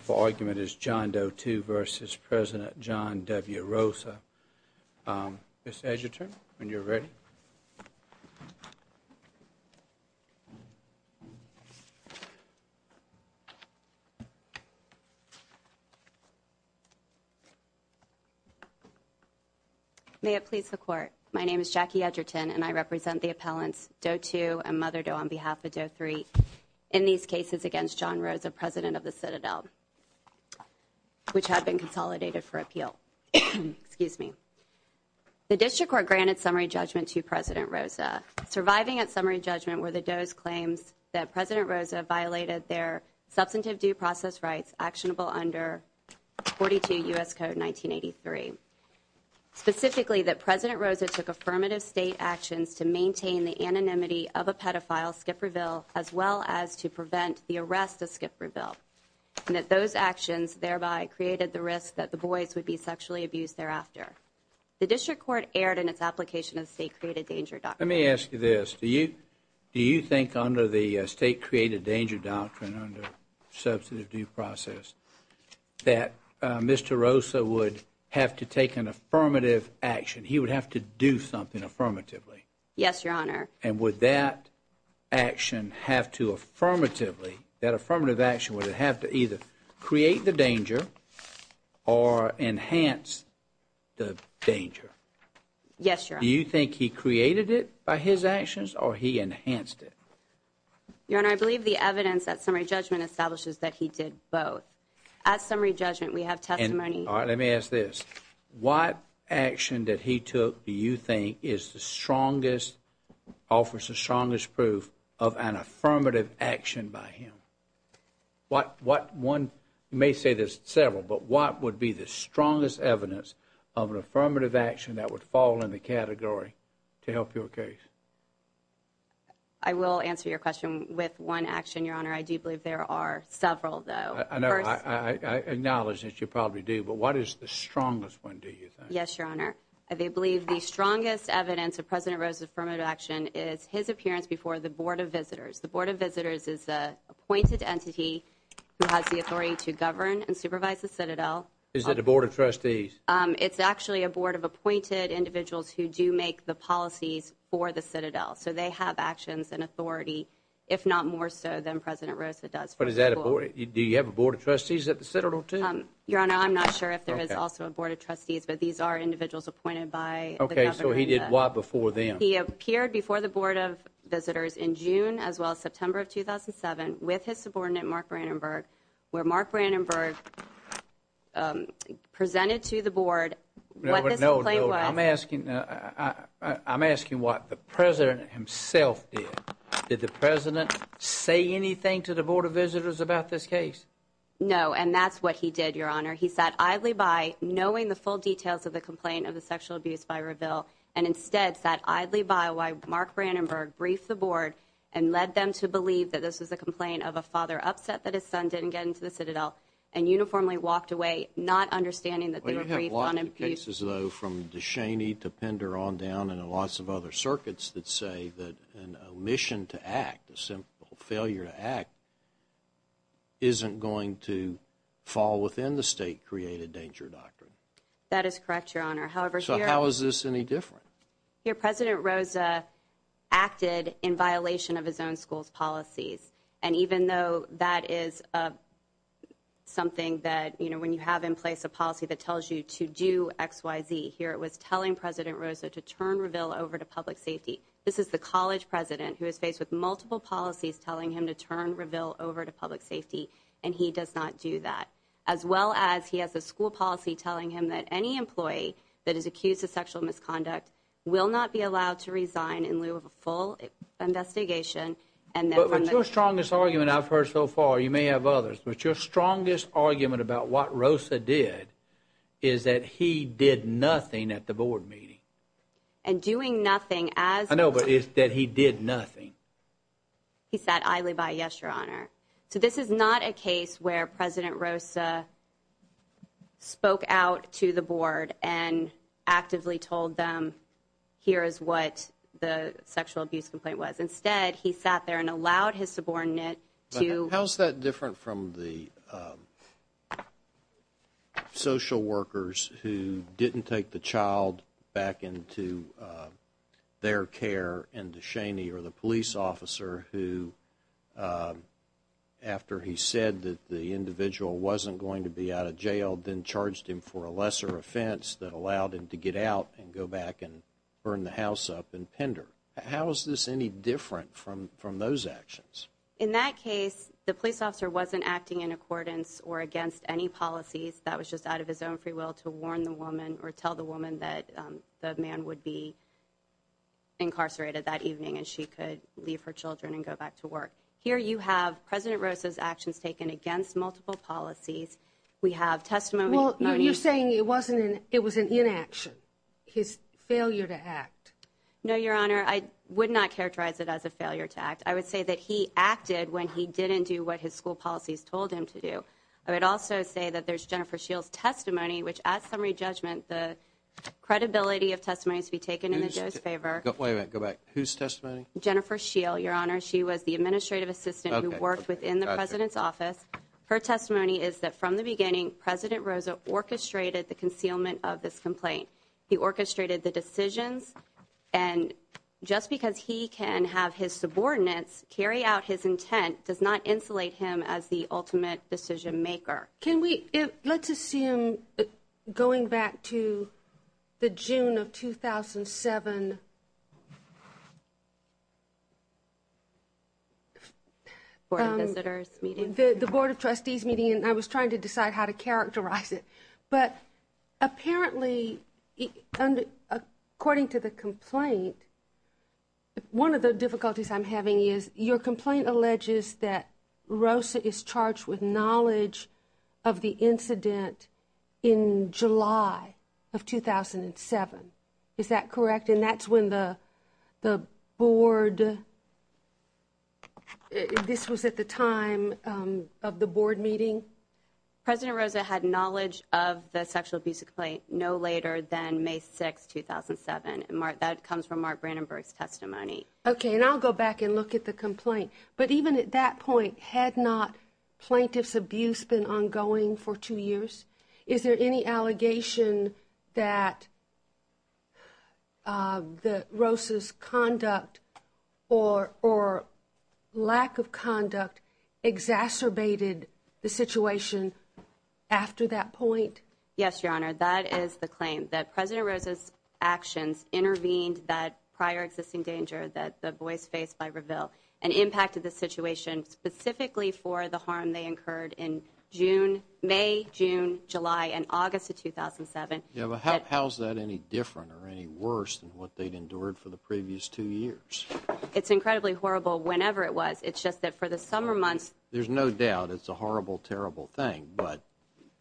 for argument is John Doe 2 v. President John W. Rosa. Ms. Edgerton, when you're ready. May it please the Court. My name is Jackie Edgerton and I represent the appellants Doe 2 and Mother Doe on behalf of Doe 3 in these cases against John Rosa, President of the Citadel, which had been consolidated for appeal. The District Court granted summary judgment to President Rosa. Surviving at summary judgment were the Doe's claims that President Rosa violated their substantive due process rights actionable under 42 U.S. Code 1983. Specifically, that President Rosa took affirmative state actions to maintain the anonymity of a skip or bill. And that those actions thereby created the risk that the boys would be sexually abused thereafter. The District Court erred in its application of state created danger doctrine. Let me ask you this. Do you think under the state created danger doctrine under substantive due process that Mr. Rosa would have to take an affirmative action? He would have to do something affirmatively? Yes, Your Honor. And would that action have to affirmatively, that affirmative action would have to either create the danger or enhance the danger? Yes, Your Honor. Do you think he created it by his actions or he enhanced it? Your Honor, I believe the evidence at summary judgment establishes that he did both. At summary judgment we have testimony. All right, let me ask this. What action that he took do you think is the strongest, offers the strongest proof of an affirmative action by him? What one may say there's several, but what would be the strongest evidence of an affirmative action that would fall in the category to help your case? I will answer your question with one action, Your Honor. I do believe there are several, though. I acknowledge that you probably do, but what is the strongest one, do you think? Yes, Your Honor. I believe the strongest evidence of President Rosa's affirmative action is his appearance before the Board of Visitors. The Board of Visitors is the appointed entity who has the authority to govern and supervise the Citadel. Is that the Board of Trustees? It's actually a board of appointed individuals who do make the policies for the Citadel. So they have actions and authority, if not more so than President Rosa does. But is that a board? Do you have a board of trustees at the Citadel too? Your Honor, I'm not sure if there is also a board of trustees, but these are individuals appointed by the government. So he did what before then? He appeared before the Board of Visitors in June as well as September of 2007 with his subordinate, Mark Brandenburg, where Mark Brandenburg presented to the Board what this complaint was. I'm asking what the President himself did. Did the President say anything to the Board of Visitors about this case? No, and that's what he did, Your Honor. He sat idly by, knowing the full details of the complaint of the sexual abuse by Reveal, and instead sat idly by while Mark Brandenburg briefed the Board and led them to believe that this was a complaint of a father upset that his son didn't get into the Citadel and uniformly walked away, not understanding that they were briefed on abuse. Well, you have a lot of cases, though, from DeShaney to Pender on down and lots of other circuits that say that an omission to act, a simple failure to act, isn't going to fall within the state-created danger doctrine. That is correct, Your Honor. So how is this any different? Here, President Rosa acted in violation of his own school's policies, and even though that is something that, you know, when you have in place a policy that tells you to do X, Y, Z, here it was telling President Rosa to turn Reveal over to public safety. This is the college president who is faced with multiple policies telling him to turn Reveal over to public safety, and he does not do that, as well as he has a school policy telling him that any employee that is accused of sexual misconduct will not be allowed to resign in lieu of a full investigation. But your strongest argument I've heard so far, you may have others, but your strongest argument about what Rosa did is that he did nothing at the board meeting. And doing nothing as... I know, but it's that he did nothing. He sat idly by, yes, Your Honor. So this is not a case where President Rosa spoke out to the board and actively told them, here is what the sexual abuse complaint was. Instead, he sat there and allowed his subordinate to... How is that different from the social workers who didn't take the child back into their care, and DeShaney or the police officer who, after he said that the individual wasn't going to be out of jail, then charged him for a lesser offense that allowed him to get out and go back and burn the house up and pender? How is this any different from those actions? In that case, the police officer wasn't acting in accordance or against any policies. That was just out of his own free will to warn the woman or tell the woman that the man would be incarcerated that evening and she could leave her children and go back to work. Here you have President Rosa's actions taken against multiple policies. We have testimony... Well, you're saying it was an inaction, his failure to act. No, Your Honor. I would not characterize it as a failure to act. I would say that he acted when he didn't do what his school policies told him to do. I would also say that there's Jennifer Scheel's testimony, which at summary judgment, the credibility of testimony to be taken in the administrative assistant who worked within the President's office. Her testimony is that from the beginning, President Rosa orchestrated the concealment of this complaint. He orchestrated the decisions and just because he can have his subordinates carry out his intent does not insulate him as the ultimate decision maker. Can we... Let's assume going back to the Board of Visitors meeting. The Board of Trustees meeting and I was trying to decide how to characterize it. But apparently, according to the complaint, one of the difficulties I'm having is your complaint alleges that Rosa is charged with knowledge of the incident in July of 2007. Is that correct? And that's when the board... This was at the time of the board meeting? President Rosa had knowledge of the sexual abuse complaint no later than May 6, 2007. That comes from Mark Brandenburg's testimony. Okay. And I'll go back and look at the complaint. But even at that point, had not plaintiff's abuse been ongoing for two years? Is there any allegation that Rosa's conduct or lack of conduct exacerbated the situation after that point? Yes, Your Honor. That is the claim. That President Rosa's actions intervened that prior existing danger that the boys faced by Reveal and for the harm they incurred in May, June, July, and August of 2007. Yeah, but how is that any different or any worse than what they'd endured for the previous two years? It's incredibly horrible whenever it was. It's just that for the summer months... There's no doubt it's a horrible, terrible thing. But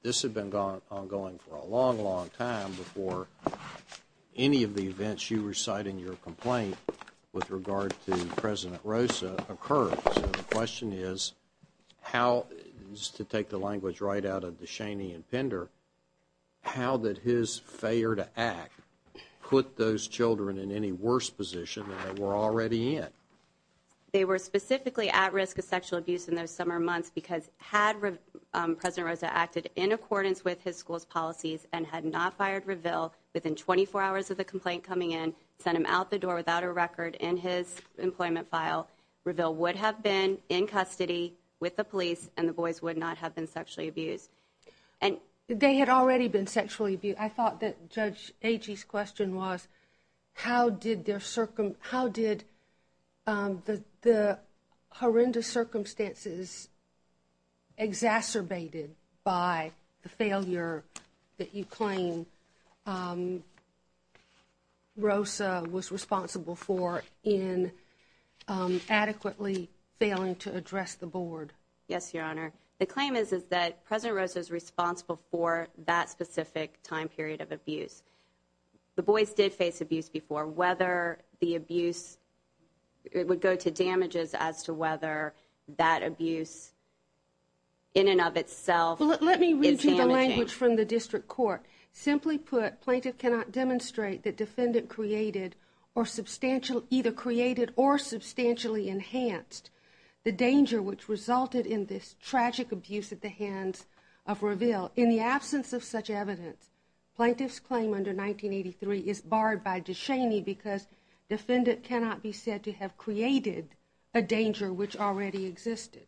this had been ongoing for a long, long time before any of the events you recite in your complaint with regard to President Rosa occurred. So the question is how, just to take the language right out of DeShaney and Pender, how did his failure to act put those children in any worse position than they were already in? They were specifically at risk of sexual abuse in those summer months because had President Rosa acted in accordance with his school's policies and had not fired Reveal within 24 hours of the complaint coming in, sent him out the door without a record in his employment file, Reveal would have been in custody with the police and the boys would not have been sexually abused. They had already been sexually abused. I thought that Judge Agee's question was how did the horrendous circumstances exacerbated by the address the board? Yes, Your Honor. The claim is that President Rosa is responsible for that specific time period of abuse. The boys did face abuse before. Whether the abuse... It would go to damages as to whether that abuse in and of itself... Let me read you the language from the district court. Simply put, plaintiff cannot demonstrate that defendant created or substantially enhanced the danger which resulted in this tragic abuse at the hands of Reveal. In the absence of such evidence, plaintiff's claim under 1983 is barred by DeShaney because defendant cannot be said to have created a danger which already existed.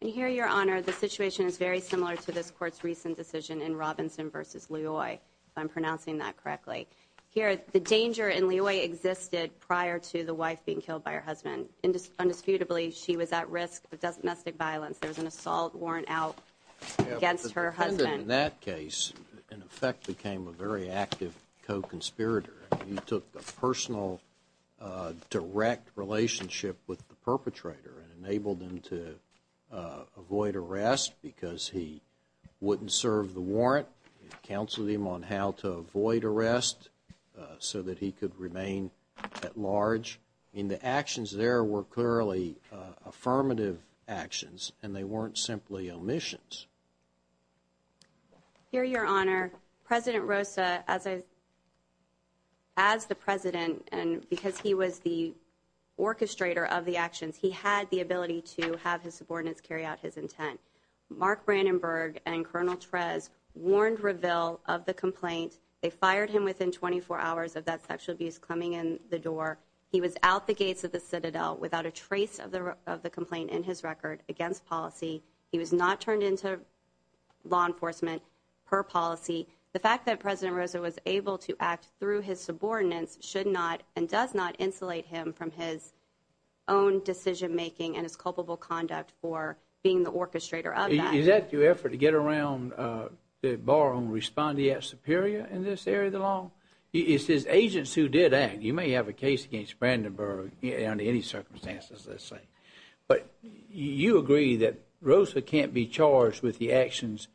And here, Your Honor, the situation is very similar to this court's recent decision in Robinson v. Loy, if I'm pronouncing that correctly. Here, the danger in Loy existed prior to the wife being killed by her husband. Undisputably, she was at risk of domestic violence. There was an assault warrant out against her husband. The defendant in that case, in effect, became a very active co-conspirator. He took a personal direct relationship with the perpetrator and enabled him to avoid arrest because he wouldn't serve the warrant. It counseled him on how to avoid arrest so that he could remain at large in the actions. There were clearly affirmative actions and they weren't simply omissions. Here, Your Honor, President Rosa, as the president and because he was the orchestrator of the actions, he had the ability to have his subordinates carry out his intent. Mark Brandenburg and Colonel Trez warned Reveal of the complaint. They fired him within 24 hours of that sexual abuse coming in the building. He was out the gates of the Citadel without a trace of the complaint in his record against policy. He was not turned into law enforcement per policy. The fact that President Rosa was able to act through his subordinates should not and does not insulate him from his own decision making and his culpable conduct for being the orchestrator of that. Is that your effort to get around the bar on respondeat superior in this area of a case against Brandenburg under any circumstances, let's say. But you agree that Rosa can't be charged with the actions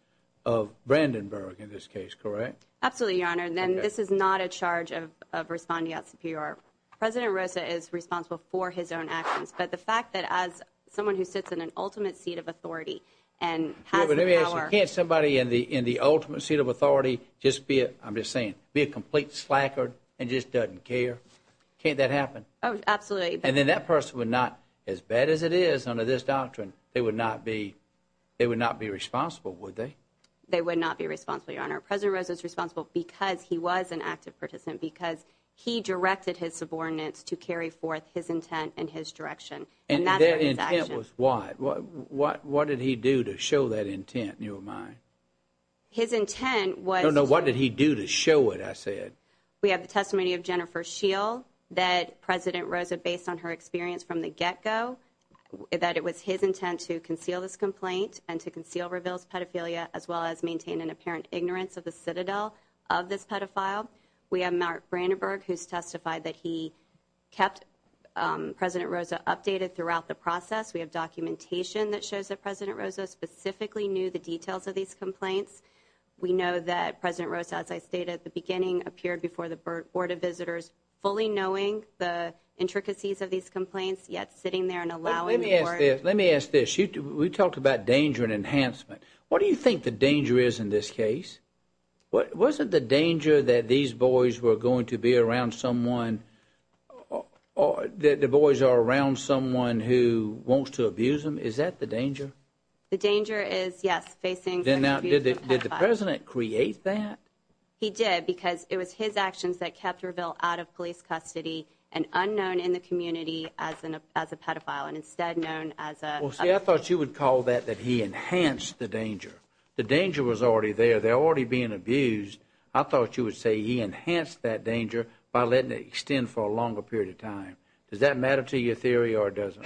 of Brandenburg in this case, correct? Absolutely, Your Honor, and this is not a charge of respondeat superior. President Rosa is responsible for his own actions, but the fact that as someone who sits in an ultimate seat of authority and has the power... Can't somebody in the ultimate seat of authority just be a, I'm just saying, be a complete slacker and just doesn't care? Can't that happen? Absolutely. And then that person would not, as bad as it is under this doctrine, they would not be responsible, would they? They would not be responsible, Your Honor. President Rosa is responsible because he was an active participant, because he directed his subordinates to carry forth his intent and his direction. And their intent was what? What did he do to show that intent in your mind? His intent was... I don't know what did he do to show it, I said. We have the testimony of Jennifer Scheel, that President Rosa, based on her experience from the get-go, that it was his intent to conceal this complaint and to conceal Ravel's pedophilia, as well as maintain an apparent ignorance of the citadel of this pedophile. We have Mark Brandenburg, who's testified that he kept President Rosa updated throughout the process. We have documentation that shows that President Rosa specifically knew the details of these complaints. We know that President Rosa, as I stated at the beginning, appeared before the Board of Visitors fully knowing the intricacies of these complaints, yet sitting there and allowing the Board... Let me ask this. We talked about danger and enhancement. What do you think the danger is in this case? Wasn't the danger that these boys were going to be around someone, that the boys are around someone who wants to abuse them, is that the danger? The danger is, yes, facing... Then now, did the President create that? He did, because it was his actions that kept Ravel out of police custody and unknown in the community as a pedophile, and instead known as a... Well, see, I thought you would call that that he enhanced the danger. The danger was already there. They're already being abused. I thought you would say he enhanced that danger by letting it extend for a longer period of time. Does that matter to your theory, or does it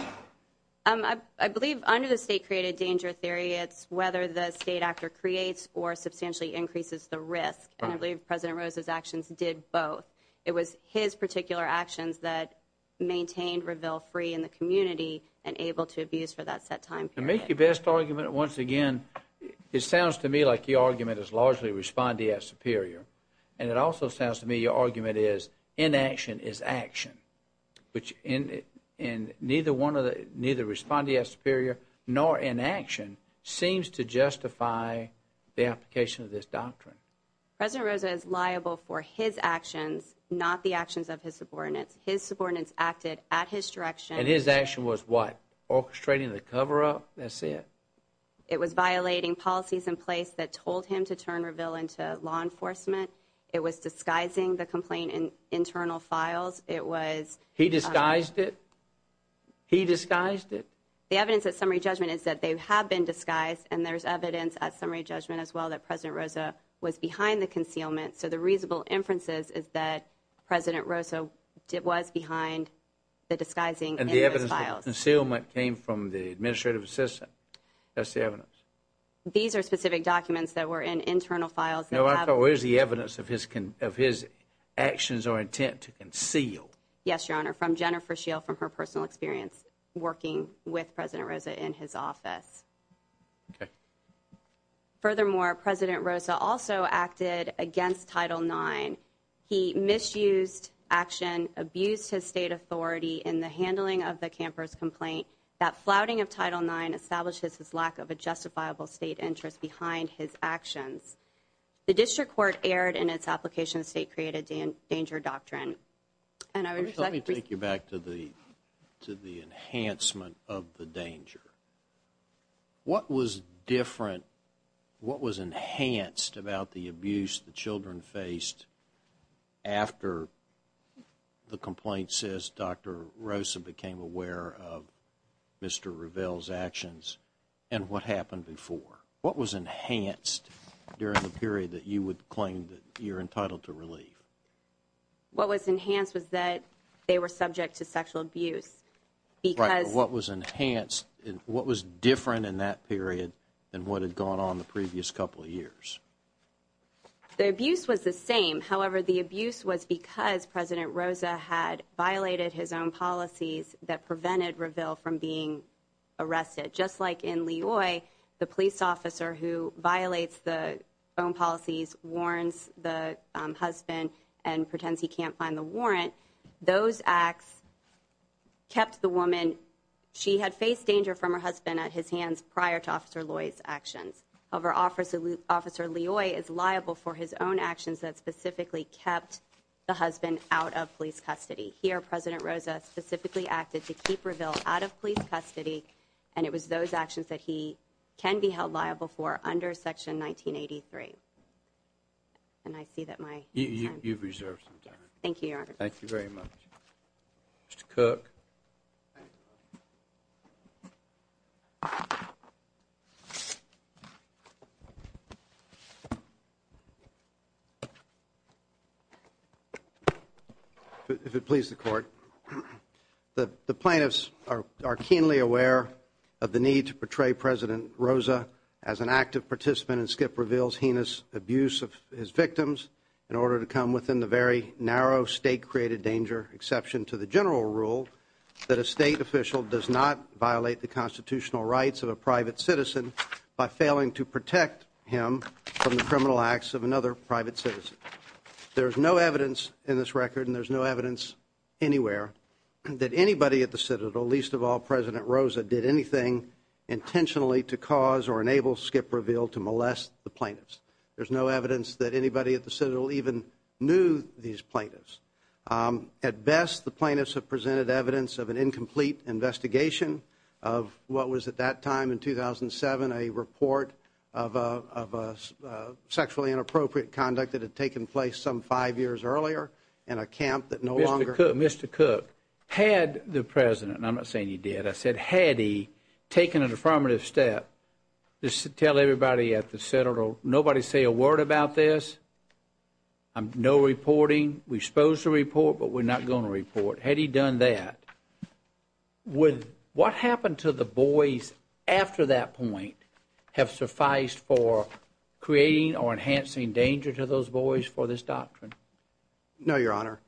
not? I believe under the state-created danger theory, it's whether the state actor creates or substantially increases the risk, and I believe President Rosa's actions did both. It was his particular actions that maintained Ravel free in the community and able to abuse for that set time period. To make your best argument, once again, it sounds to me like your argument is largely responding as superior, and it also sounds to me your argument is inaction is action, and neither responding as superior nor inaction seems to justify the application of this doctrine. President Rosa is liable for his actions, not the actions of his subordinates. His subordinates acted at his direction... And his action was what? Orchestrating the cover-up? That's it? It was violating policies in place that told him to turn Ravel into law enforcement. It was disguising the complaint in internal files. He disguised it? He disguised it? The evidence at summary judgment is that they have been disguised, and there's evidence at summary judgment as well that President Rosa was behind the concealment, so the reasonable inferences is that President Rosa was behind the disguising in those files. And the evidence of the concealment came from the administrative assistant. That's the evidence. These are specific documents that were in internal files. No, I thought, where's the evidence of his actions or intent to conceal? Yes, Your Honor, from Jennifer Shiel from her personal experience working with President Rosa in his office. Okay. Furthermore, President Rosa also acted against Title IX. He misused action, abused his state authority in the handling of the camper's complaint. That flouting of Title IX establishes his lack of a justifiable state interest behind his actions. The district court erred in its application of state-created danger doctrine. Let me take you back to the enhancement of the danger. What was different, what was enhanced about the abuse the children faced after the complaint says Dr. Rosa became aware of Mr. Ravel's actions and what happened before? What was enhanced during the period that you would claim that you're entitled to relieve? What was enhanced was that they were subject to sexual abuse. Right, but what was enhanced, what was different in that period than what had gone on the previous couple of years? The abuse was the same. However, the abuse was because President Rosa had violated his own policies that prevented Ravel from being arrested. Just like in Loy, the police officer who violates the own policies, warns the husband and pretends he can't find the warrant. Those acts kept the woman. She had faced danger from her husband at his hands prior to Officer Loy's actions. However, Officer Loy is liable for his own actions that specifically kept the husband out of police custody. Here, President Rosa specifically acted to keep Ravel out of police custody, and it was those actions that he can be held liable for under Section 1983. And I see that my time is up. You've reserved some time. Thank you, Your Honor. Thank you very much. Mr. Cook. Thank you. If it please the Court, the plaintiffs are keenly aware of the need to portray President Rosa as an active participant in Skip Reveal's heinous abuse of his victims in order to come within the very narrow state-created danger, exception to the general rule, that a state official does not violate the constitutional rights of a private citizen by failing to protect him from the criminal acts of another private citizen. There is no evidence in this record, and there is no evidence anywhere, that anybody at the Citadel, least of all President Rosa, did anything intentionally to cause or enable Skip Reveal to molest the plaintiffs. There is no evidence that anybody at the Citadel even knew these plaintiffs. At best, the plaintiffs have presented evidence of an incomplete investigation of what was at that time in 2007, a report of sexually inappropriate conduct that had taken place some five years earlier in a camp that no longer Mr. Cook. Mr. Cook, had the President, and I'm not saying he did, I said had he taken a deformative step to tell everybody at the Citadel, nobody say a word about this, no reporting, we're supposed to report, but we're not going to report. Had he done that, would what happened to the boys after that point have sufficed for creating or enhancing danger to those boys for this doctrine? No, Your Honor.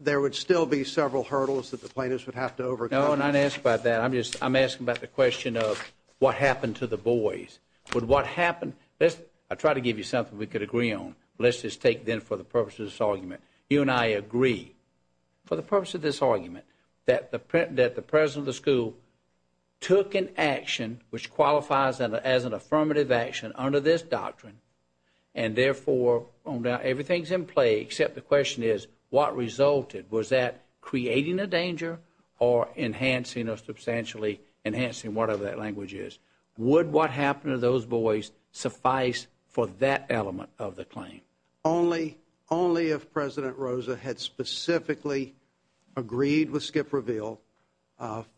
There would still be several hurdles that the plaintiffs would have to overcome. No, I'm not asking about that. I'm asking about the question of what happened to the boys. I'll try to give you something we could agree on. Let's just take, then, for the purpose of this argument. You and I agree, for the purpose of this argument, that the President of the school took an action which qualifies as an affirmative action under this doctrine and, therefore, everything's in play, except the question is what resulted. Was that creating a danger or enhancing or substantially enhancing, whatever that language is? Would what happened to those boys suffice for that element of the claim? Only if President Rosa had specifically agreed with Skip Reveal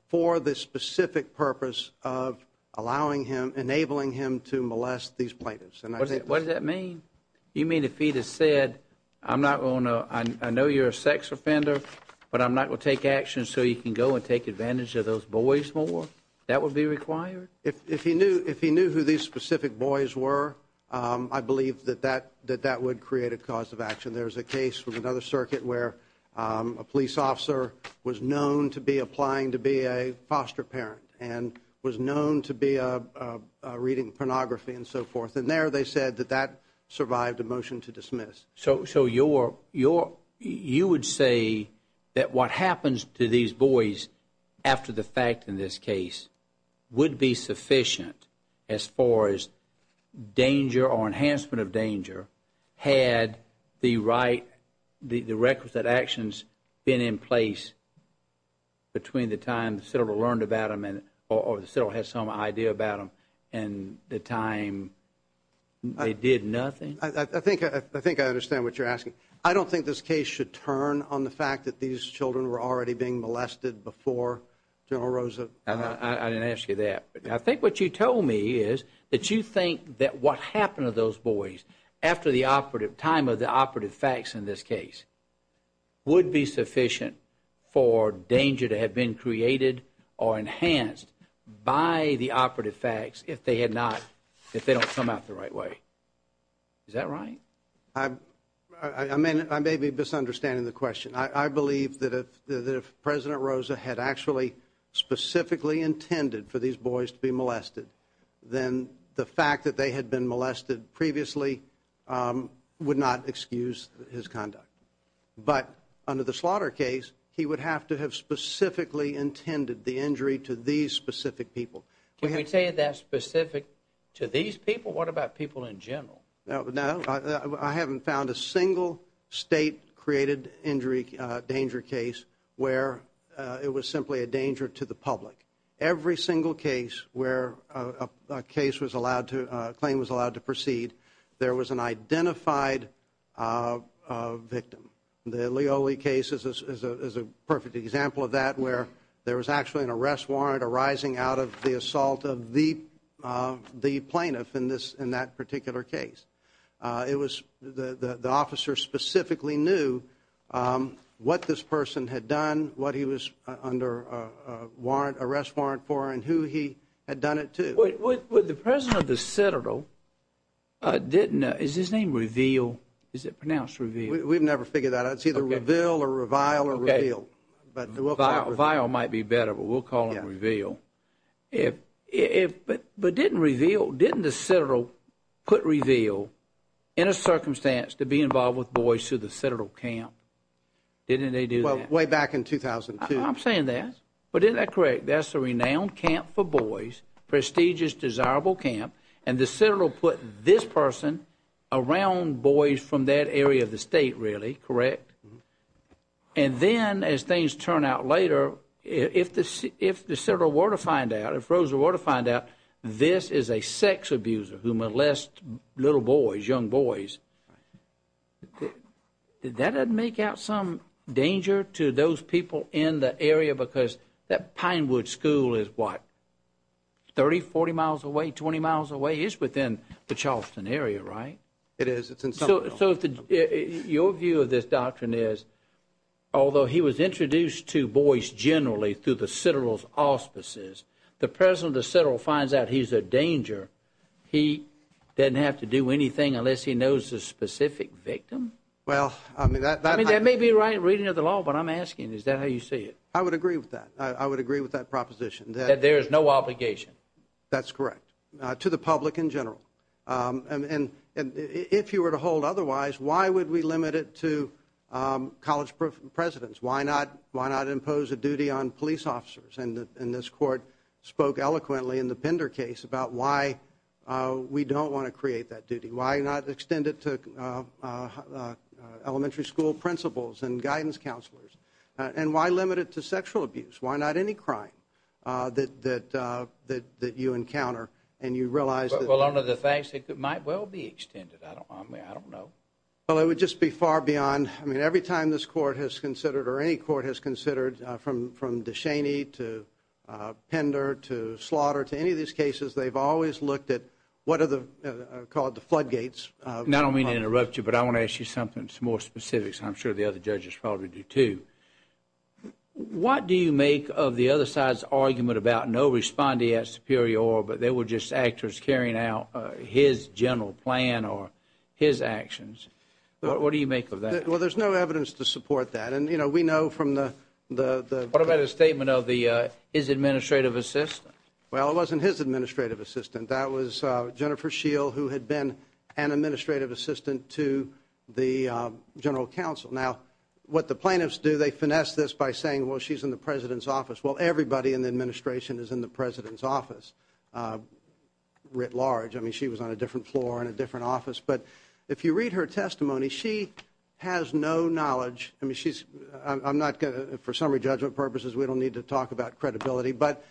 for the specific purpose of allowing him, enabling him to molest these plaintiffs. What does that mean? You mean if he had said, I know you're a sex offender, but I'm not going to take action so you can go and take advantage of those boys more? That would be required? If he knew who these specific boys were, I believe that that would create a cause of action. There's a case from another circuit where a police officer was known to be applying to be a foster parent and was known to be reading pornography and so forth, and there they said that that survived a motion to dismiss. So you would say that what happens to these boys after the fact in this case would be sufficient as far as danger or enhancement of danger had the requisite actions been in place between the time the settler learned about them or the settler had some idea about them and the time they did nothing? I think I understand what you're asking. I don't think this case should turn on the fact that these children were already being molested before General Rosa. I didn't ask you that. I think what you told me is that you think that what happened to those boys after the time of the operative facts in this case would be sufficient for danger to have been created or enhanced by the operative facts if they had not, if they don't come out the right way. Is that right? I may be misunderstanding the question. I believe that if President Rosa had actually specifically intended for these boys to be molested, then the fact that they had been molested previously would not excuse his conduct. But under the slaughter case, he would have to have specifically intended the injury to these specific people. Can we say that's specific to these people? What about people in general? I haven't found a single state-created injury danger case where it was simply a danger to the public. Every single case where a claim was allowed to proceed, there was an identified victim. The Leoli case is a perfect example of that, where there was actually an arrest warrant arising out of the assault of the plaintiff in that particular case. The officer specifically knew what this person had done, what he was under an arrest warrant for, and who he had done it to. The President of the Citadel didn't, is his name Reveal? Is it pronounced Reveal? We've never figured that out. It's either Reveal or Revile or Reveal, but we'll call it Reveal. Vile might be better, but we'll call it Reveal. But didn't Reveal, didn't the Citadel put Reveal in a circumstance to be involved with boys through the Citadel camp? Didn't they do that? Well, way back in 2002. I'm saying that, but isn't that correct? That's a renowned camp for boys, prestigious, desirable camp, and the Citadel put this person around boys from that area of the state, really, correct? And then, as things turn out later, if the Citadel were to find out, if Rosa were to find out this is a sex abuser who molested little boys, young boys, that would make out some danger to those people in the area because that Pinewood school is what, 30, 40 miles away, 20 miles away? It's within the Charleston area, right? It is. So your view of this doctrine is, although he was introduced to boys generally through the Citadel's auspices, the president of the Citadel finds out he's a danger, he doesn't have to do anything unless he knows the specific victim? Well, I mean that. I mean, that may be reading of the law, but I'm asking, is that how you see it? I would agree with that. I would agree with that proposition. That there is no obligation. That's correct, to the public in general. And if you were to hold otherwise, why would we limit it to college presidents? Why not impose a duty on police officers? And this court spoke eloquently in the Pender case about why we don't want to create that duty. Why not extend it to elementary school principals and guidance counselors? And why limit it to sexual abuse? Why not any crime that you encounter and you realize that? Well, under the facts, it might well be extended. I don't know. Well, it would just be far beyond. I mean, every time this court has considered or any court has considered from DeShaney to Pender to Slaughter to any of these cases, they've always looked at what are called the floodgates. And I don't mean to interrupt you, but I want to ask you something more specific, and I'm sure the other judges probably do, too. What do you make of the other side's argument about no respondee at Superior, but they were just actors carrying out his general plan or his actions? What do you make of that? Well, there's no evidence to support that. And, you know, we know from the – What about his statement of his administrative assistant? Well, it wasn't his administrative assistant. That was Jennifer Scheel, who had been an administrative assistant to the general counsel. Now, what the plaintiffs do, they finesse this by saying, well, she's in the president's office. Well, everybody in the administration is in the president's office writ large. I mean, she was on a different floor in a different office. But if you read her testimony, she has no knowledge. I mean, she's – I'm not going to – for summary judgment purposes, we don't need to talk about credibility. But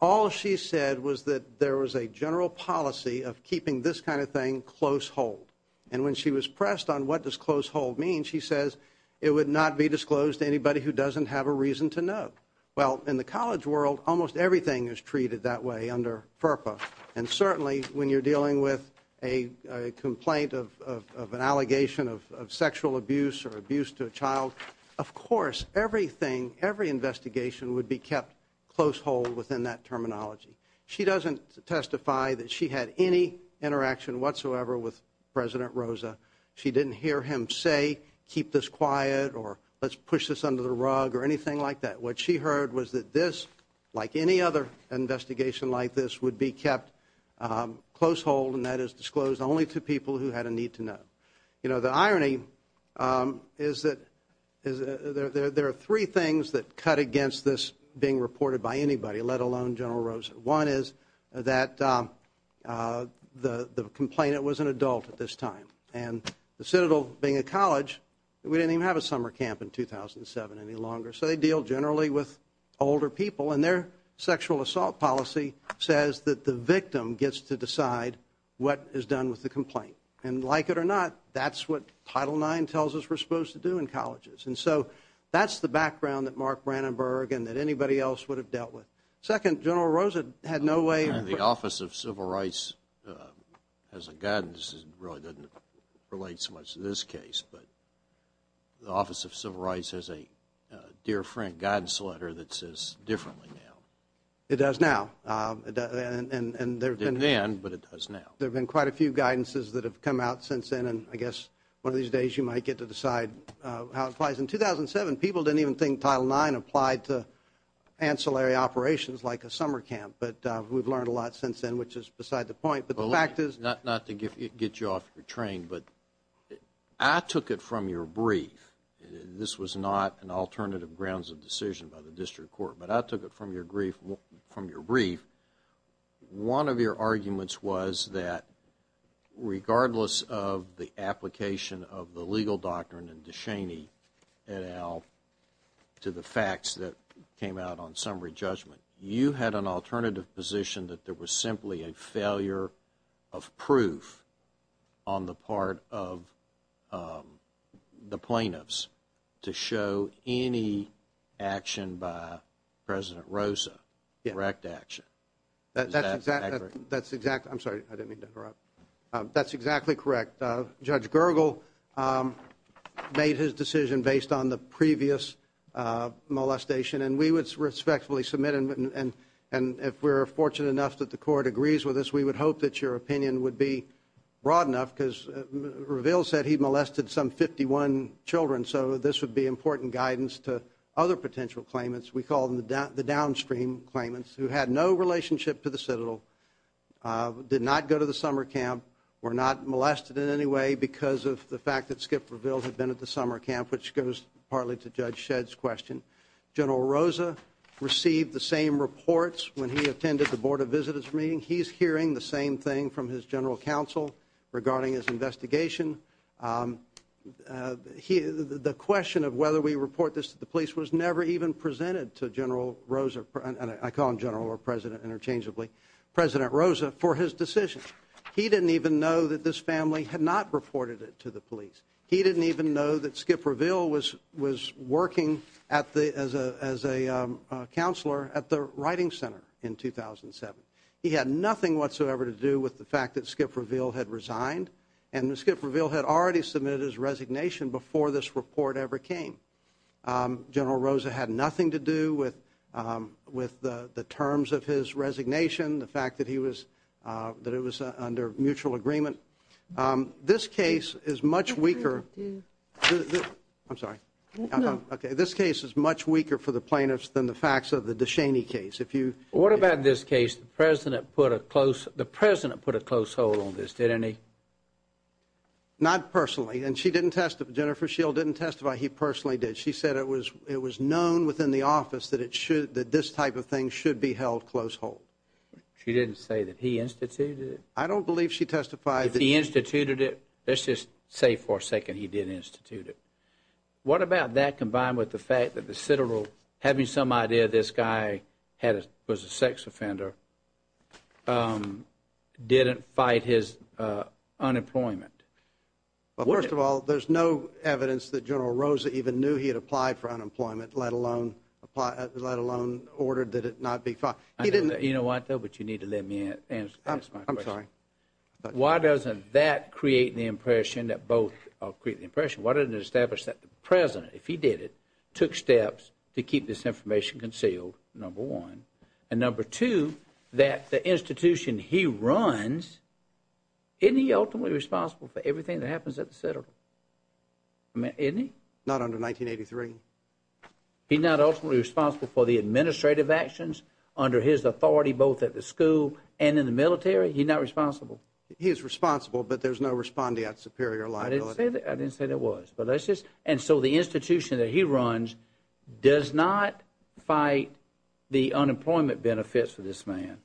all she said was that there was a general policy of keeping this kind of thing close hold. And when she was pressed on what does close hold mean, she says it would not be disclosed to anybody who doesn't have a reason to know. Well, in the college world, almost everything is treated that way under FERPA. And certainly, when you're dealing with a complaint of an allegation of sexual abuse or abuse to a child, of course, everything, every investigation would be kept close hold within that terminology. She doesn't testify that she had any interaction whatsoever with President Rosa. She didn't hear him say keep this quiet or let's push this under the rug or anything like that. What she heard was that this, like any other investigation like this, would be kept close hold, and that is disclosed only to people who had a need to know. You know, the irony is that there are three things that cut against this being reported by anybody, let alone General Rosa. One is that the complainant was an adult at this time. And the Citadel, being a college, we didn't even have a summer camp in 2007 any longer. So they deal generally with older people. And their sexual assault policy says that the victim gets to decide what is done with the complaint. And like it or not, that's what Title IX tells us we're supposed to do in colleges. And so that's the background that Mark Brandenburg and that anybody else would have dealt with. Second, General Rosa had no way of – The Office of Civil Rights has a guidance that really doesn't relate so much to this case, but the Office of Civil Rights has a dear friend guidance letter that says differently now. It does now. It didn't then, but it does now. There have been quite a few guidances that have come out since then, and I guess one of these days you might get to decide how it applies. In 2007, people didn't even think Title IX applied to ancillary operations like a summer camp. But we've learned a lot since then, which is beside the point. Not to get you off your train, but I took it from your brief. This was not an alternative grounds of decision by the district court, but I took it from your brief. One of your arguments was that regardless of the application of the legal doctrine in DeShaney et al. to the facts that came out on summary judgment, you had an alternative position that there was simply a failure of proof on the part of the plaintiffs to show any action by President Rosa, correct action. Is that accurate? That's exactly – I'm sorry, I didn't mean to interrupt. That's exactly correct. Judge Gergel made his decision based on the previous molestation, and we would respectfully submit, and if we're fortunate enough that the court agrees with us, we would hope that your opinion would be broad enough because Reveal said he molested some 51 children, so this would be important guidance to other potential claimants. We call them the downstream claimants who had no relationship to the Citadel, did not go to the summer camp, were not molested in any way because of the fact that Skip Reveal had been at the summer camp, which goes partly to Judge Shedd's question. General Rosa received the same reports when he attended the Board of Visitors meeting. He's hearing the same thing from his general counsel regarding his investigation. The question of whether we report this to the police was never even presented to General Rosa, and I call him General or President interchangeably, President Rosa, for his decision. He didn't even know that this family had not reported it to the police. He didn't even know that Skip Reveal was working as a counselor at the Writing Center in 2007. He had nothing whatsoever to do with the fact that Skip Reveal had resigned, and that Skip Reveal had already submitted his resignation before this report ever came. General Rosa had nothing to do with the terms of his resignation, the fact that it was under mutual agreement. This case is much weaker for the plaintiffs than the facts of the DeShaney case. What about this case? The President put a close hold on this, didn't he? Not personally, and Jennifer Schill didn't testify. He personally did. She said it was known within the office that this type of thing should be held close hold. She didn't say that he instituted it? I don't believe she testified. If he instituted it, let's just say for a second he did institute it. What about that combined with the fact that the Citadel, having some idea this guy was a sex offender, didn't fight his unemployment? Well, first of all, there's no evidence that General Rosa even knew he had applied for unemployment, let alone ordered that it not be filed. You know what, though, but you need to let me answer my question. I'm sorry. Why doesn't that create the impression that both create the impression, why doesn't it establish that the President, if he did it, took steps to keep this information concealed, number one, and number two, that the institution he runs, isn't he ultimately responsible for everything that happens at the Citadel? Isn't he? Not under 1983. He's not ultimately responsible for the administrative actions under his authority, both at the school and in the military? He's not responsible? He is responsible, but there's no respondeat superior liability. I didn't say that was. And so the institution that he runs does not fight the unemployment benefits for this man.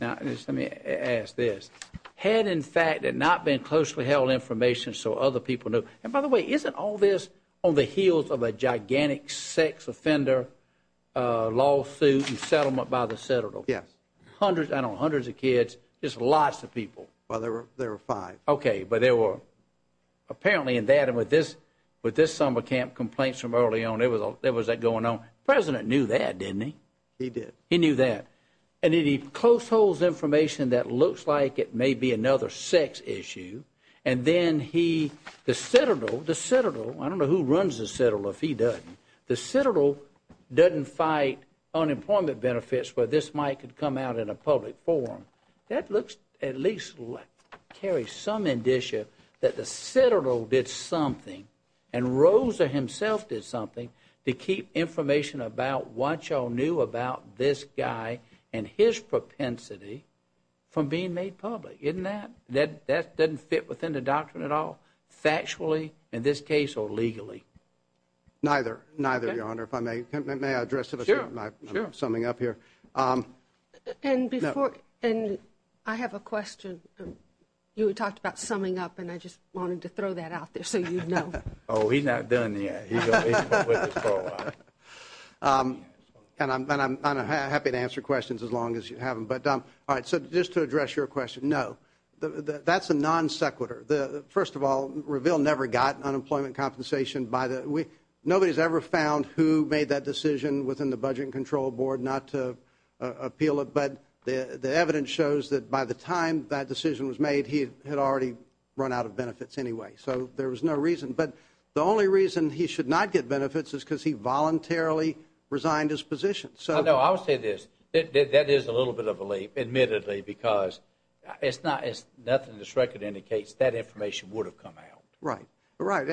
Now, let me ask this. Had, in fact, it not been closely held information so other people knew, and by the way, isn't all this on the heels of a gigantic sex offender lawsuit and settlement by the Citadel? Yes. Hundreds, I don't know, hundreds of kids, just lots of people. Well, there were five. Okay, but there were apparently in that and with this summer camp complaints from early on, there was that going on. The President knew that, didn't he? He did. He knew that. And then he close holds information that looks like it may be another sex issue. And then he, the Citadel, the Citadel, I don't know who runs the Citadel if he doesn't, the Citadel doesn't fight unemployment benefits where this might come out in a public forum. That looks, at least carries some indicia that the Citadel did something and Rosa himself did something to keep information about what y'all knew about this guy and his propensity from being made public, isn't that? That doesn't fit within the doctrine at all, factually, in this case, or legally. Neither, neither, Your Honor, if I may. May I address it? Sure. I'm summing up here. And before, and I have a question. You had talked about summing up and I just wanted to throw that out there so you'd know. Oh, he's not done yet. He's going to wait this for a while. And I'm happy to answer questions as long as you have them. But, all right, so just to address your question, no, that's a non sequitur. First of all, Reveal never got unemployment compensation. Nobody's ever found who made that decision within the Budget and Control Board not to appeal it. But the evidence shows that by the time that decision was made, he had already run out of benefits anyway. So there was no reason. But the only reason he should not get benefits is because he voluntarily resigned his position. No, I'll say this. That is a little bit of a leap, admittedly, because it's not, nothing in this record indicates that information would have come out. Right, right.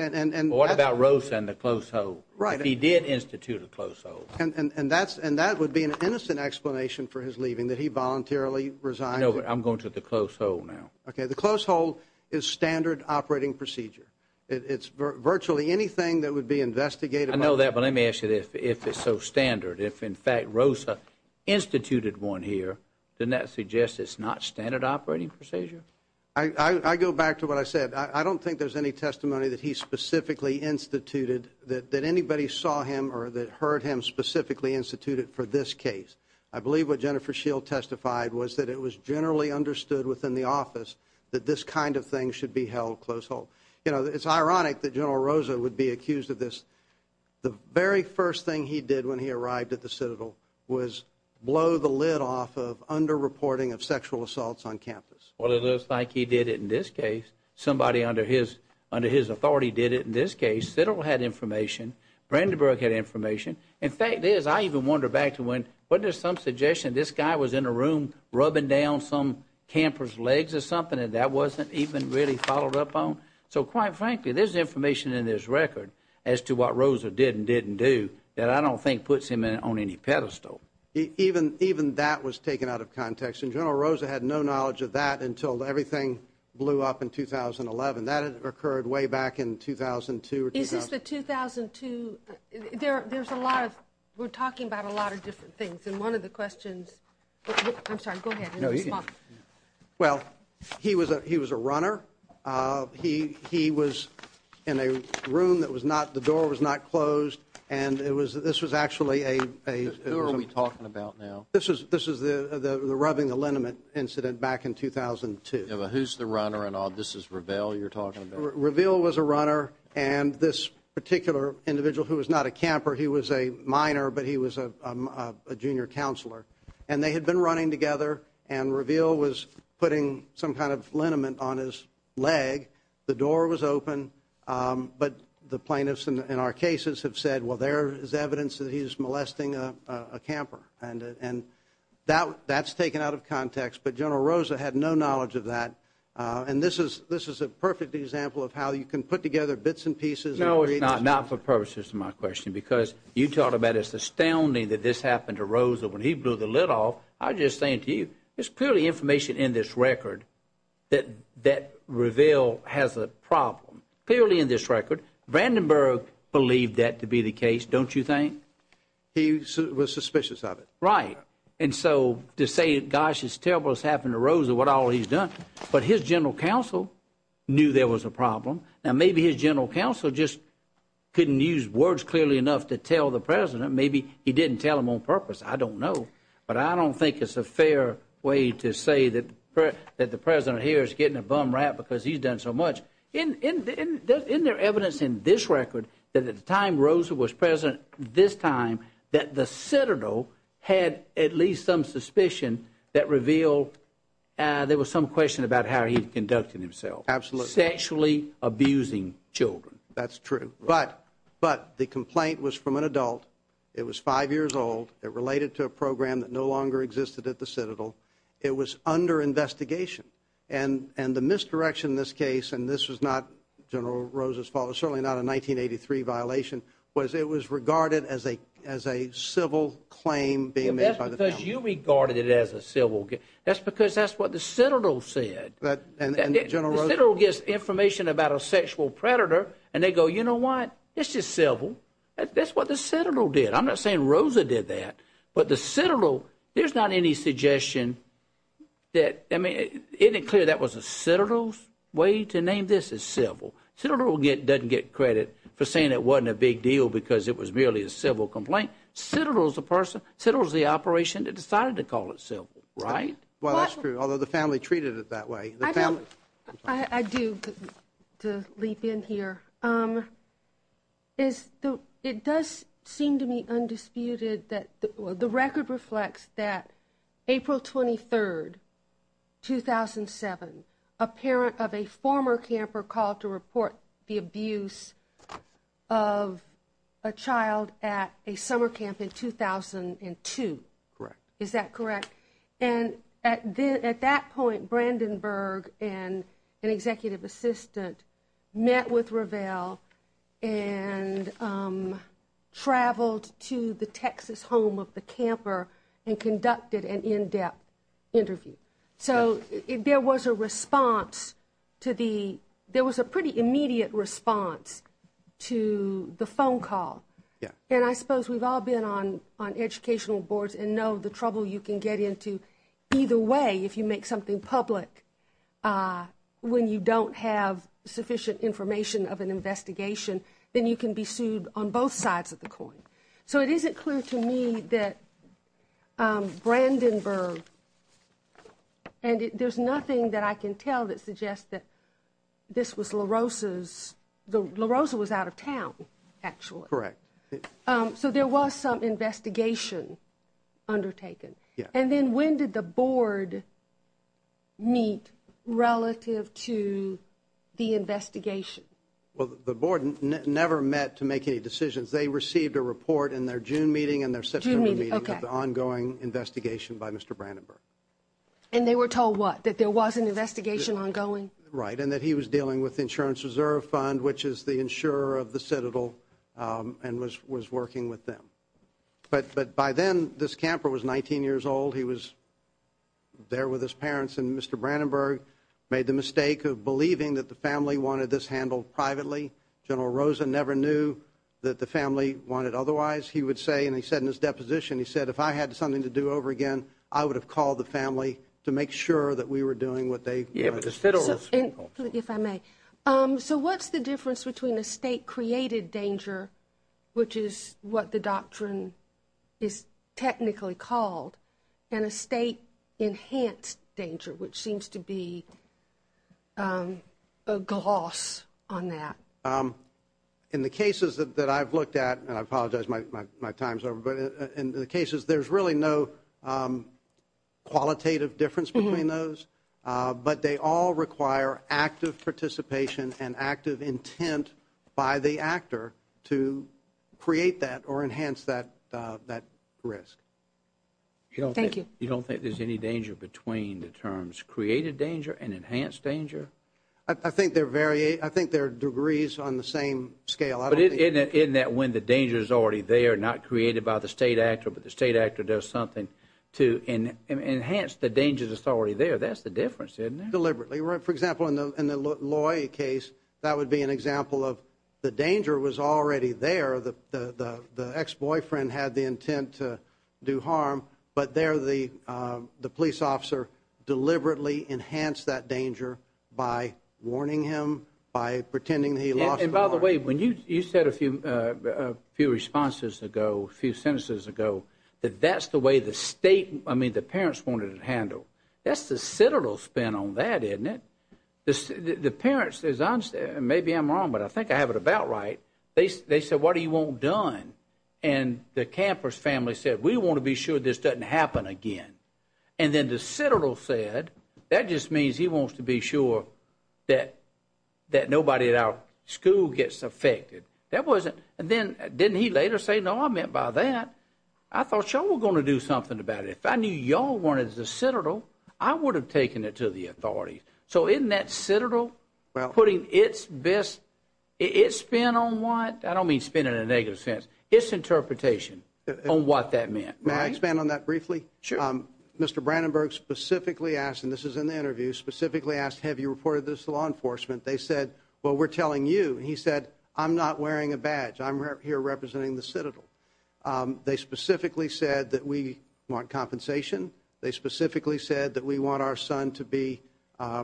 What about Rosa and the close hold? He did institute a close hold. And that would be an innocent explanation for his leaving, that he voluntarily resigned. No, I'm going to the close hold now. Okay, the close hold is standard operating procedure. It's virtually anything that would be investigated. I know that, but let me ask you this. If it's so standard, if, in fact, Rosa instituted one here, doesn't that suggest it's not standard operating procedure? I go back to what I said. I don't think there's any testimony that he specifically instituted that anybody saw him or that heard him specifically instituted for this case. I believe what Jennifer Shield testified was that it was generally understood within the office that this kind of thing should be held close hold. You know, it's ironic that General Rosa would be accused of this. The very first thing he did when he arrived at the Citadel was blow the lid off of underreporting of sexual assaults on campus. Well, it looks like he did it in this case. Somebody under his authority did it in this case. The Citadel had information. Brandenburg had information. In fact, I even wonder back to when, wasn't there some suggestion this guy was in a room rubbing down some camper's legs or something and that wasn't even really followed up on? So, quite frankly, there's information in this record as to what Rosa did and didn't do that I don't think puts him on any pedestal. Even that was taken out of context, and General Rosa had no knowledge of that until everything blew up in 2011. That occurred way back in 2002. Is this the 2002? There's a lot of, we're talking about a lot of different things, and one of the questions, I'm sorry, go ahead. Well, he was a runner. He was in a room that was not, the door was not closed, and this was actually a... Who are we talking about now? This was the rubbing the liniment incident back in 2002. Who's the runner? This is Reveal you're talking about? Reveal was a runner, and this particular individual who was not a camper, he was a minor, but he was a junior counselor, and they had been running together, and Reveal was putting some kind of liniment on his leg. The door was open, but the plaintiffs in our cases have said, well, there is evidence that he's molesting a camper, and that's taken out of context, but General Rosa had no knowledge of that, and this is a perfect example of how you can put together bits and pieces... No, it's not, not for purposes of my question, because you talk about it's astounding that this happened to Rosa when he blew the lid off. I'm just saying to you, it's purely information in this record that Reveal has a problem, purely in this record. Vandenberg believed that to be the case, don't you think? He was suspicious of it. Right. And so to say, gosh, it's terrible what's happened to Rosa, what all he's done, but his general counsel knew there was a problem. Now, maybe his general counsel just couldn't use words clearly enough to tell the president. Maybe he didn't tell him on purpose. I don't know, but I don't think it's a fair way to say that the president here is getting a bum rap because he's done so much. Isn't there evidence in this record that at the time Rosa was president, this time, that the Citadel had at least some suspicion that Reveal, there was some question about how he conducted himself. Absolutely. Sexually abusing children. That's true. But the complaint was from an adult. It was five years old. It related to a program that no longer existed at the Citadel. It was under investigation. And the misdirection in this case, and this was not General Rosa's fault, it was certainly not a 1983 violation, was it was regarded as a civil claim being made by the family. That's because you regarded it as a civil. That's because that's what the Citadel said. The Citadel gives information about a sexual predator, and they go, you know what? It's just civil. That's what the Citadel did. I'm not saying Rosa did that. But the Citadel, there's not any suggestion that, I mean, isn't it clear that was a Citadel's way to name this as civil? Citadel doesn't get credit for saying it wasn't a big deal because it was merely a civil complaint. Citadel's the person, Citadel's the operation that decided to call it civil, right? Well, that's true, although the family treated it that way. I do, to leap in here. It does seem to me undisputed that the record reflects that April 23rd, 2007, a parent of a former camper called to report the abuse of a child at a summer camp in 2002. Correct. Is that correct? And at that point, Brandenburg and an executive assistant met with Ravel and traveled to the Texas home of the camper and conducted an in-depth interview. So there was a response to the, there was a pretty immediate response to the phone call. And I suppose we've all been on educational boards and know the trouble you can get into either way if you make something public when you don't have sufficient information of an investigation, then you can be sued on both sides of the coin. So it isn't clear to me that Brandenburg, and there's nothing that I can tell that suggests that this was La Rosa's, La Rosa was out of town, actually. Correct. So there was some investigation undertaken. And then when did the board meet relative to the investigation? Well, the board never met to make any decisions. They received a report in their June meeting and their September meeting of the ongoing investigation by Mr. Brandenburg. And they were told what, that there was an investigation ongoing? Right, and that he was dealing with the Insurance Reserve Fund, which is the insurer of the Citadel, and was working with them. But by then, this camper was 19 years old. He was there with his parents, and Mr. Brandenburg made the mistake of believing that the family wanted this handled privately. General Rosa never knew that the family wanted otherwise. He would say, and he said in his deposition, he said, if I had something to do over again, I would have called the family to make sure that we were doing what they wanted. If I may. So what's the difference between a state-created danger, which is what the doctrine is technically called, and a state-enhanced danger, which seems to be a gloss on that? In the cases that I've looked at, and I apologize, my time's over, but in the cases, there's really no qualitative difference between those, but they all require active participation and active intent by the actor to create that or enhance that risk. Thank you. You don't think there's any danger between the terms created danger and enhanced danger? I think they're degrees on the same scale. But isn't that when the danger's already there, not created by the state actor, but the state actor does something to enhance the danger that's already there, that's the difference, isn't it? Deliberately. For example, in the Loy case, that would be an example of the danger was already there. The ex-boyfriend had the intent to do harm, but there the police officer deliberately enhanced that danger by warning him, by pretending that he lost the war. And by the way, you said a few responses ago, a few sentences ago, that that's the way the parents wanted to handle. That's the Citadel's spin on that, isn't it? The parents, maybe I'm wrong, but I think I have it about right, they said, what do you want done? And the camper's family said, we want to be sure this doesn't happen again. And then the Citadel said, that just means he wants to be sure that nobody at our school gets affected. That wasn't, and then didn't he later say, no, I meant by that, I thought y'all were going to do something about it. If I knew y'all wanted the Citadel, I would have taken it to the authorities. So isn't that Citadel putting its best, its spin on what? I don't mean spin in a negative sense. Its interpretation on what that meant. May I expand on that briefly? Sure. Mr. Brandenburg specifically asked, and this is in the interview, specifically asked, have you reported this to law enforcement? They said, well, we're telling you. He said, I'm not wearing a badge. I'm here representing the Citadel. They specifically said that we want compensation. They specifically said that we want our son to be,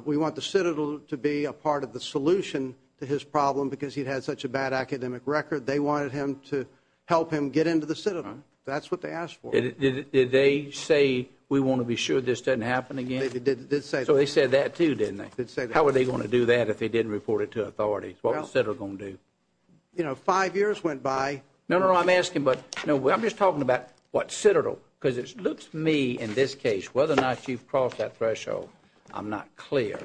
we want the Citadel to be a part of the solution to his problem, because he'd had such a bad academic record. They wanted him to help him get into the Citadel. That's what they asked for. Did they say, we want to be sure this doesn't happen again? They did say that. So they said that, too, didn't they? They did say that. How were they going to do that if they didn't report it to authorities? What was the Citadel going to do? You know, five years went by. No, no, no, I'm asking, but, no, I'm just talking about what Citadel, because it looks to me in this case, whether or not you've crossed that threshold, I'm not clear.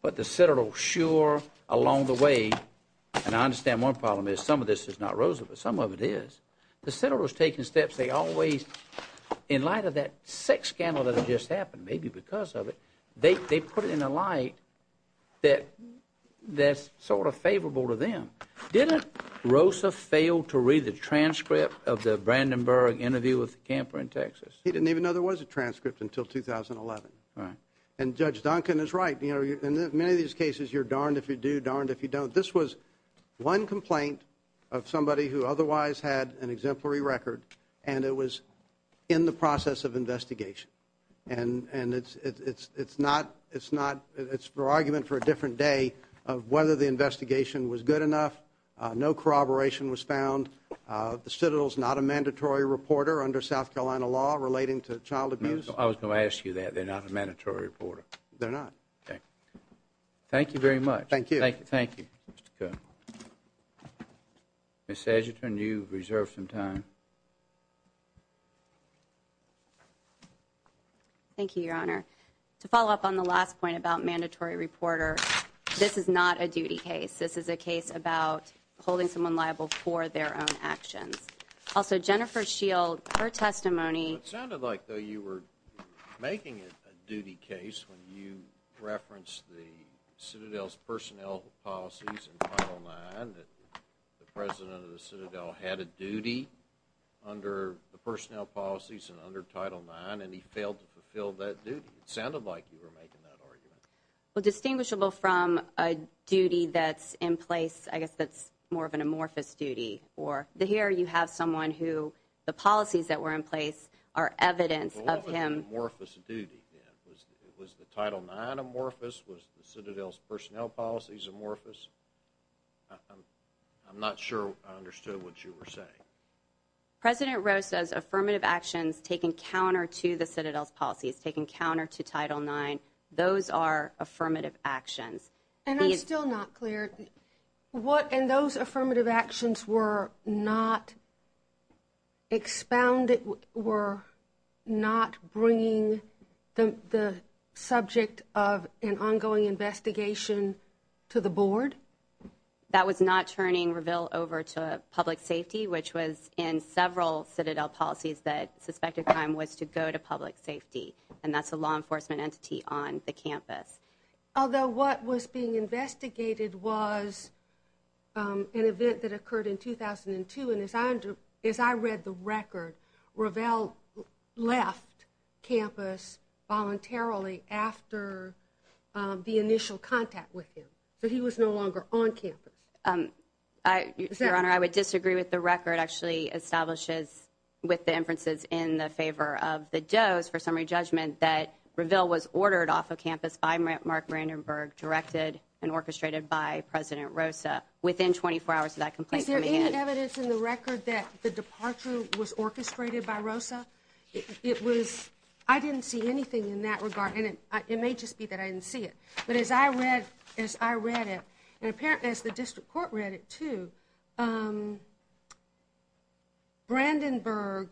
But the Citadel, sure, along the way, and I understand one problem is some of this is not Roosevelt. Some of it is. The Citadel was taking steps they always, in light of that sex scandal that had just happened, maybe because of it, they put it in a light that's sort of favorable to them. Didn't Rosa fail to read the transcript of the Brandenburg interview with the camper in Texas? He didn't even know there was a transcript until 2011. And Judge Duncan is right. In many of these cases, you're darned if you do, darned if you don't. But this was one complaint of somebody who otherwise had an exemplary record, and it was in the process of investigation. And it's not, it's for argument for a different day of whether the investigation was good enough. No corroboration was found. The Citadel is not a mandatory reporter under South Carolina law relating to child abuse. I was going to ask you that. They're not a mandatory reporter. They're not. Okay. Thank you very much. Thank you. Thank you. Ms. Agerton, you've reserved some time. Thank you, Your Honor. To follow up on the last point about mandatory reporter, this is not a duty case. This is a case about holding someone liable for their own actions. Also, Jennifer Shield, her testimony. It sounded like, though, you were making it a duty case when you referenced the Citadel's personnel policies in Title IX, that the president of the Citadel had a duty under the personnel policies and under Title IX, and he failed to fulfill that duty. It sounded like you were making that argument. Well, distinguishable from a duty that's in place, I guess that's more of an amorphous duty. Or here you have someone who the policies that were in place are evidence of him. Well, what was the amorphous duty then? Was the Title IX amorphous? Was the Citadel's personnel policies amorphous? I'm not sure I understood what you were saying. President Roe says affirmative actions taken counter to the Citadel's policies, taken counter to Title IX, those are affirmative actions. And I'm still not clear, what in those affirmative actions were not expounded, were not bringing the subject of an ongoing investigation to the board? That was not turning Reveal over to Public Safety, which was in several Citadel policies that suspected crime was to go to Public Safety, and that's a law enforcement entity on the campus. Although what was being investigated was an event that occurred in 2002, and as I read the record, Reveal left campus voluntarily after the initial contact with him. So he was no longer on campus. Your Honor, I would disagree with the record. It actually establishes with the inferences in the favor of the Doe's for summary judgment that Reveal was ordered off of campus by Mark Brandenburg, directed and orchestrated by President Rosa, within 24 hours of that complaint coming in. Is there any evidence in the record that the departure was orchestrated by Rosa? I didn't see anything in that regard, and it may just be that I didn't see it. But as I read it, and apparently as the district court read it too, Brandenburg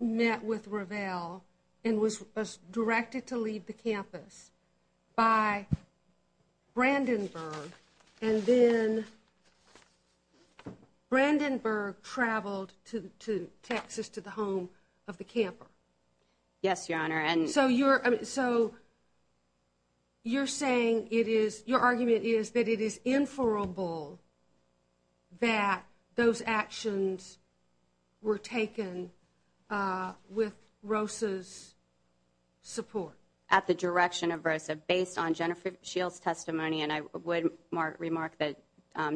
met with Reveal and was directed to leave the campus by Brandenburg, and then Brandenburg traveled to Texas to the home of the camper. Yes, Your Honor. So you're saying it is, your argument is that it is inferable that those actions were taken with Rosa's support? At the direction of Rosa, based on Jennifer Shields' testimony, and I would remark that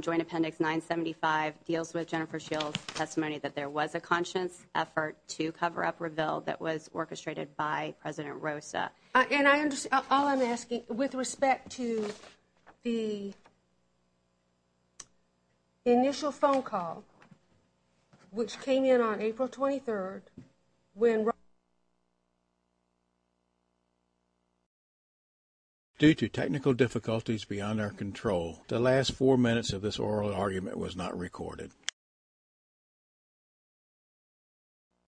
Joint Appendix 975 deals with Jennifer Shields' testimony that there was a conscience effort to cover up Reveal that was orchestrated by President Rosa. And I understand, all I'm asking, with respect to the initial phone call, which came in on April 23rd, when Rosa, Due to technical difficulties beyond our control, the last four minutes of this oral argument was not recorded.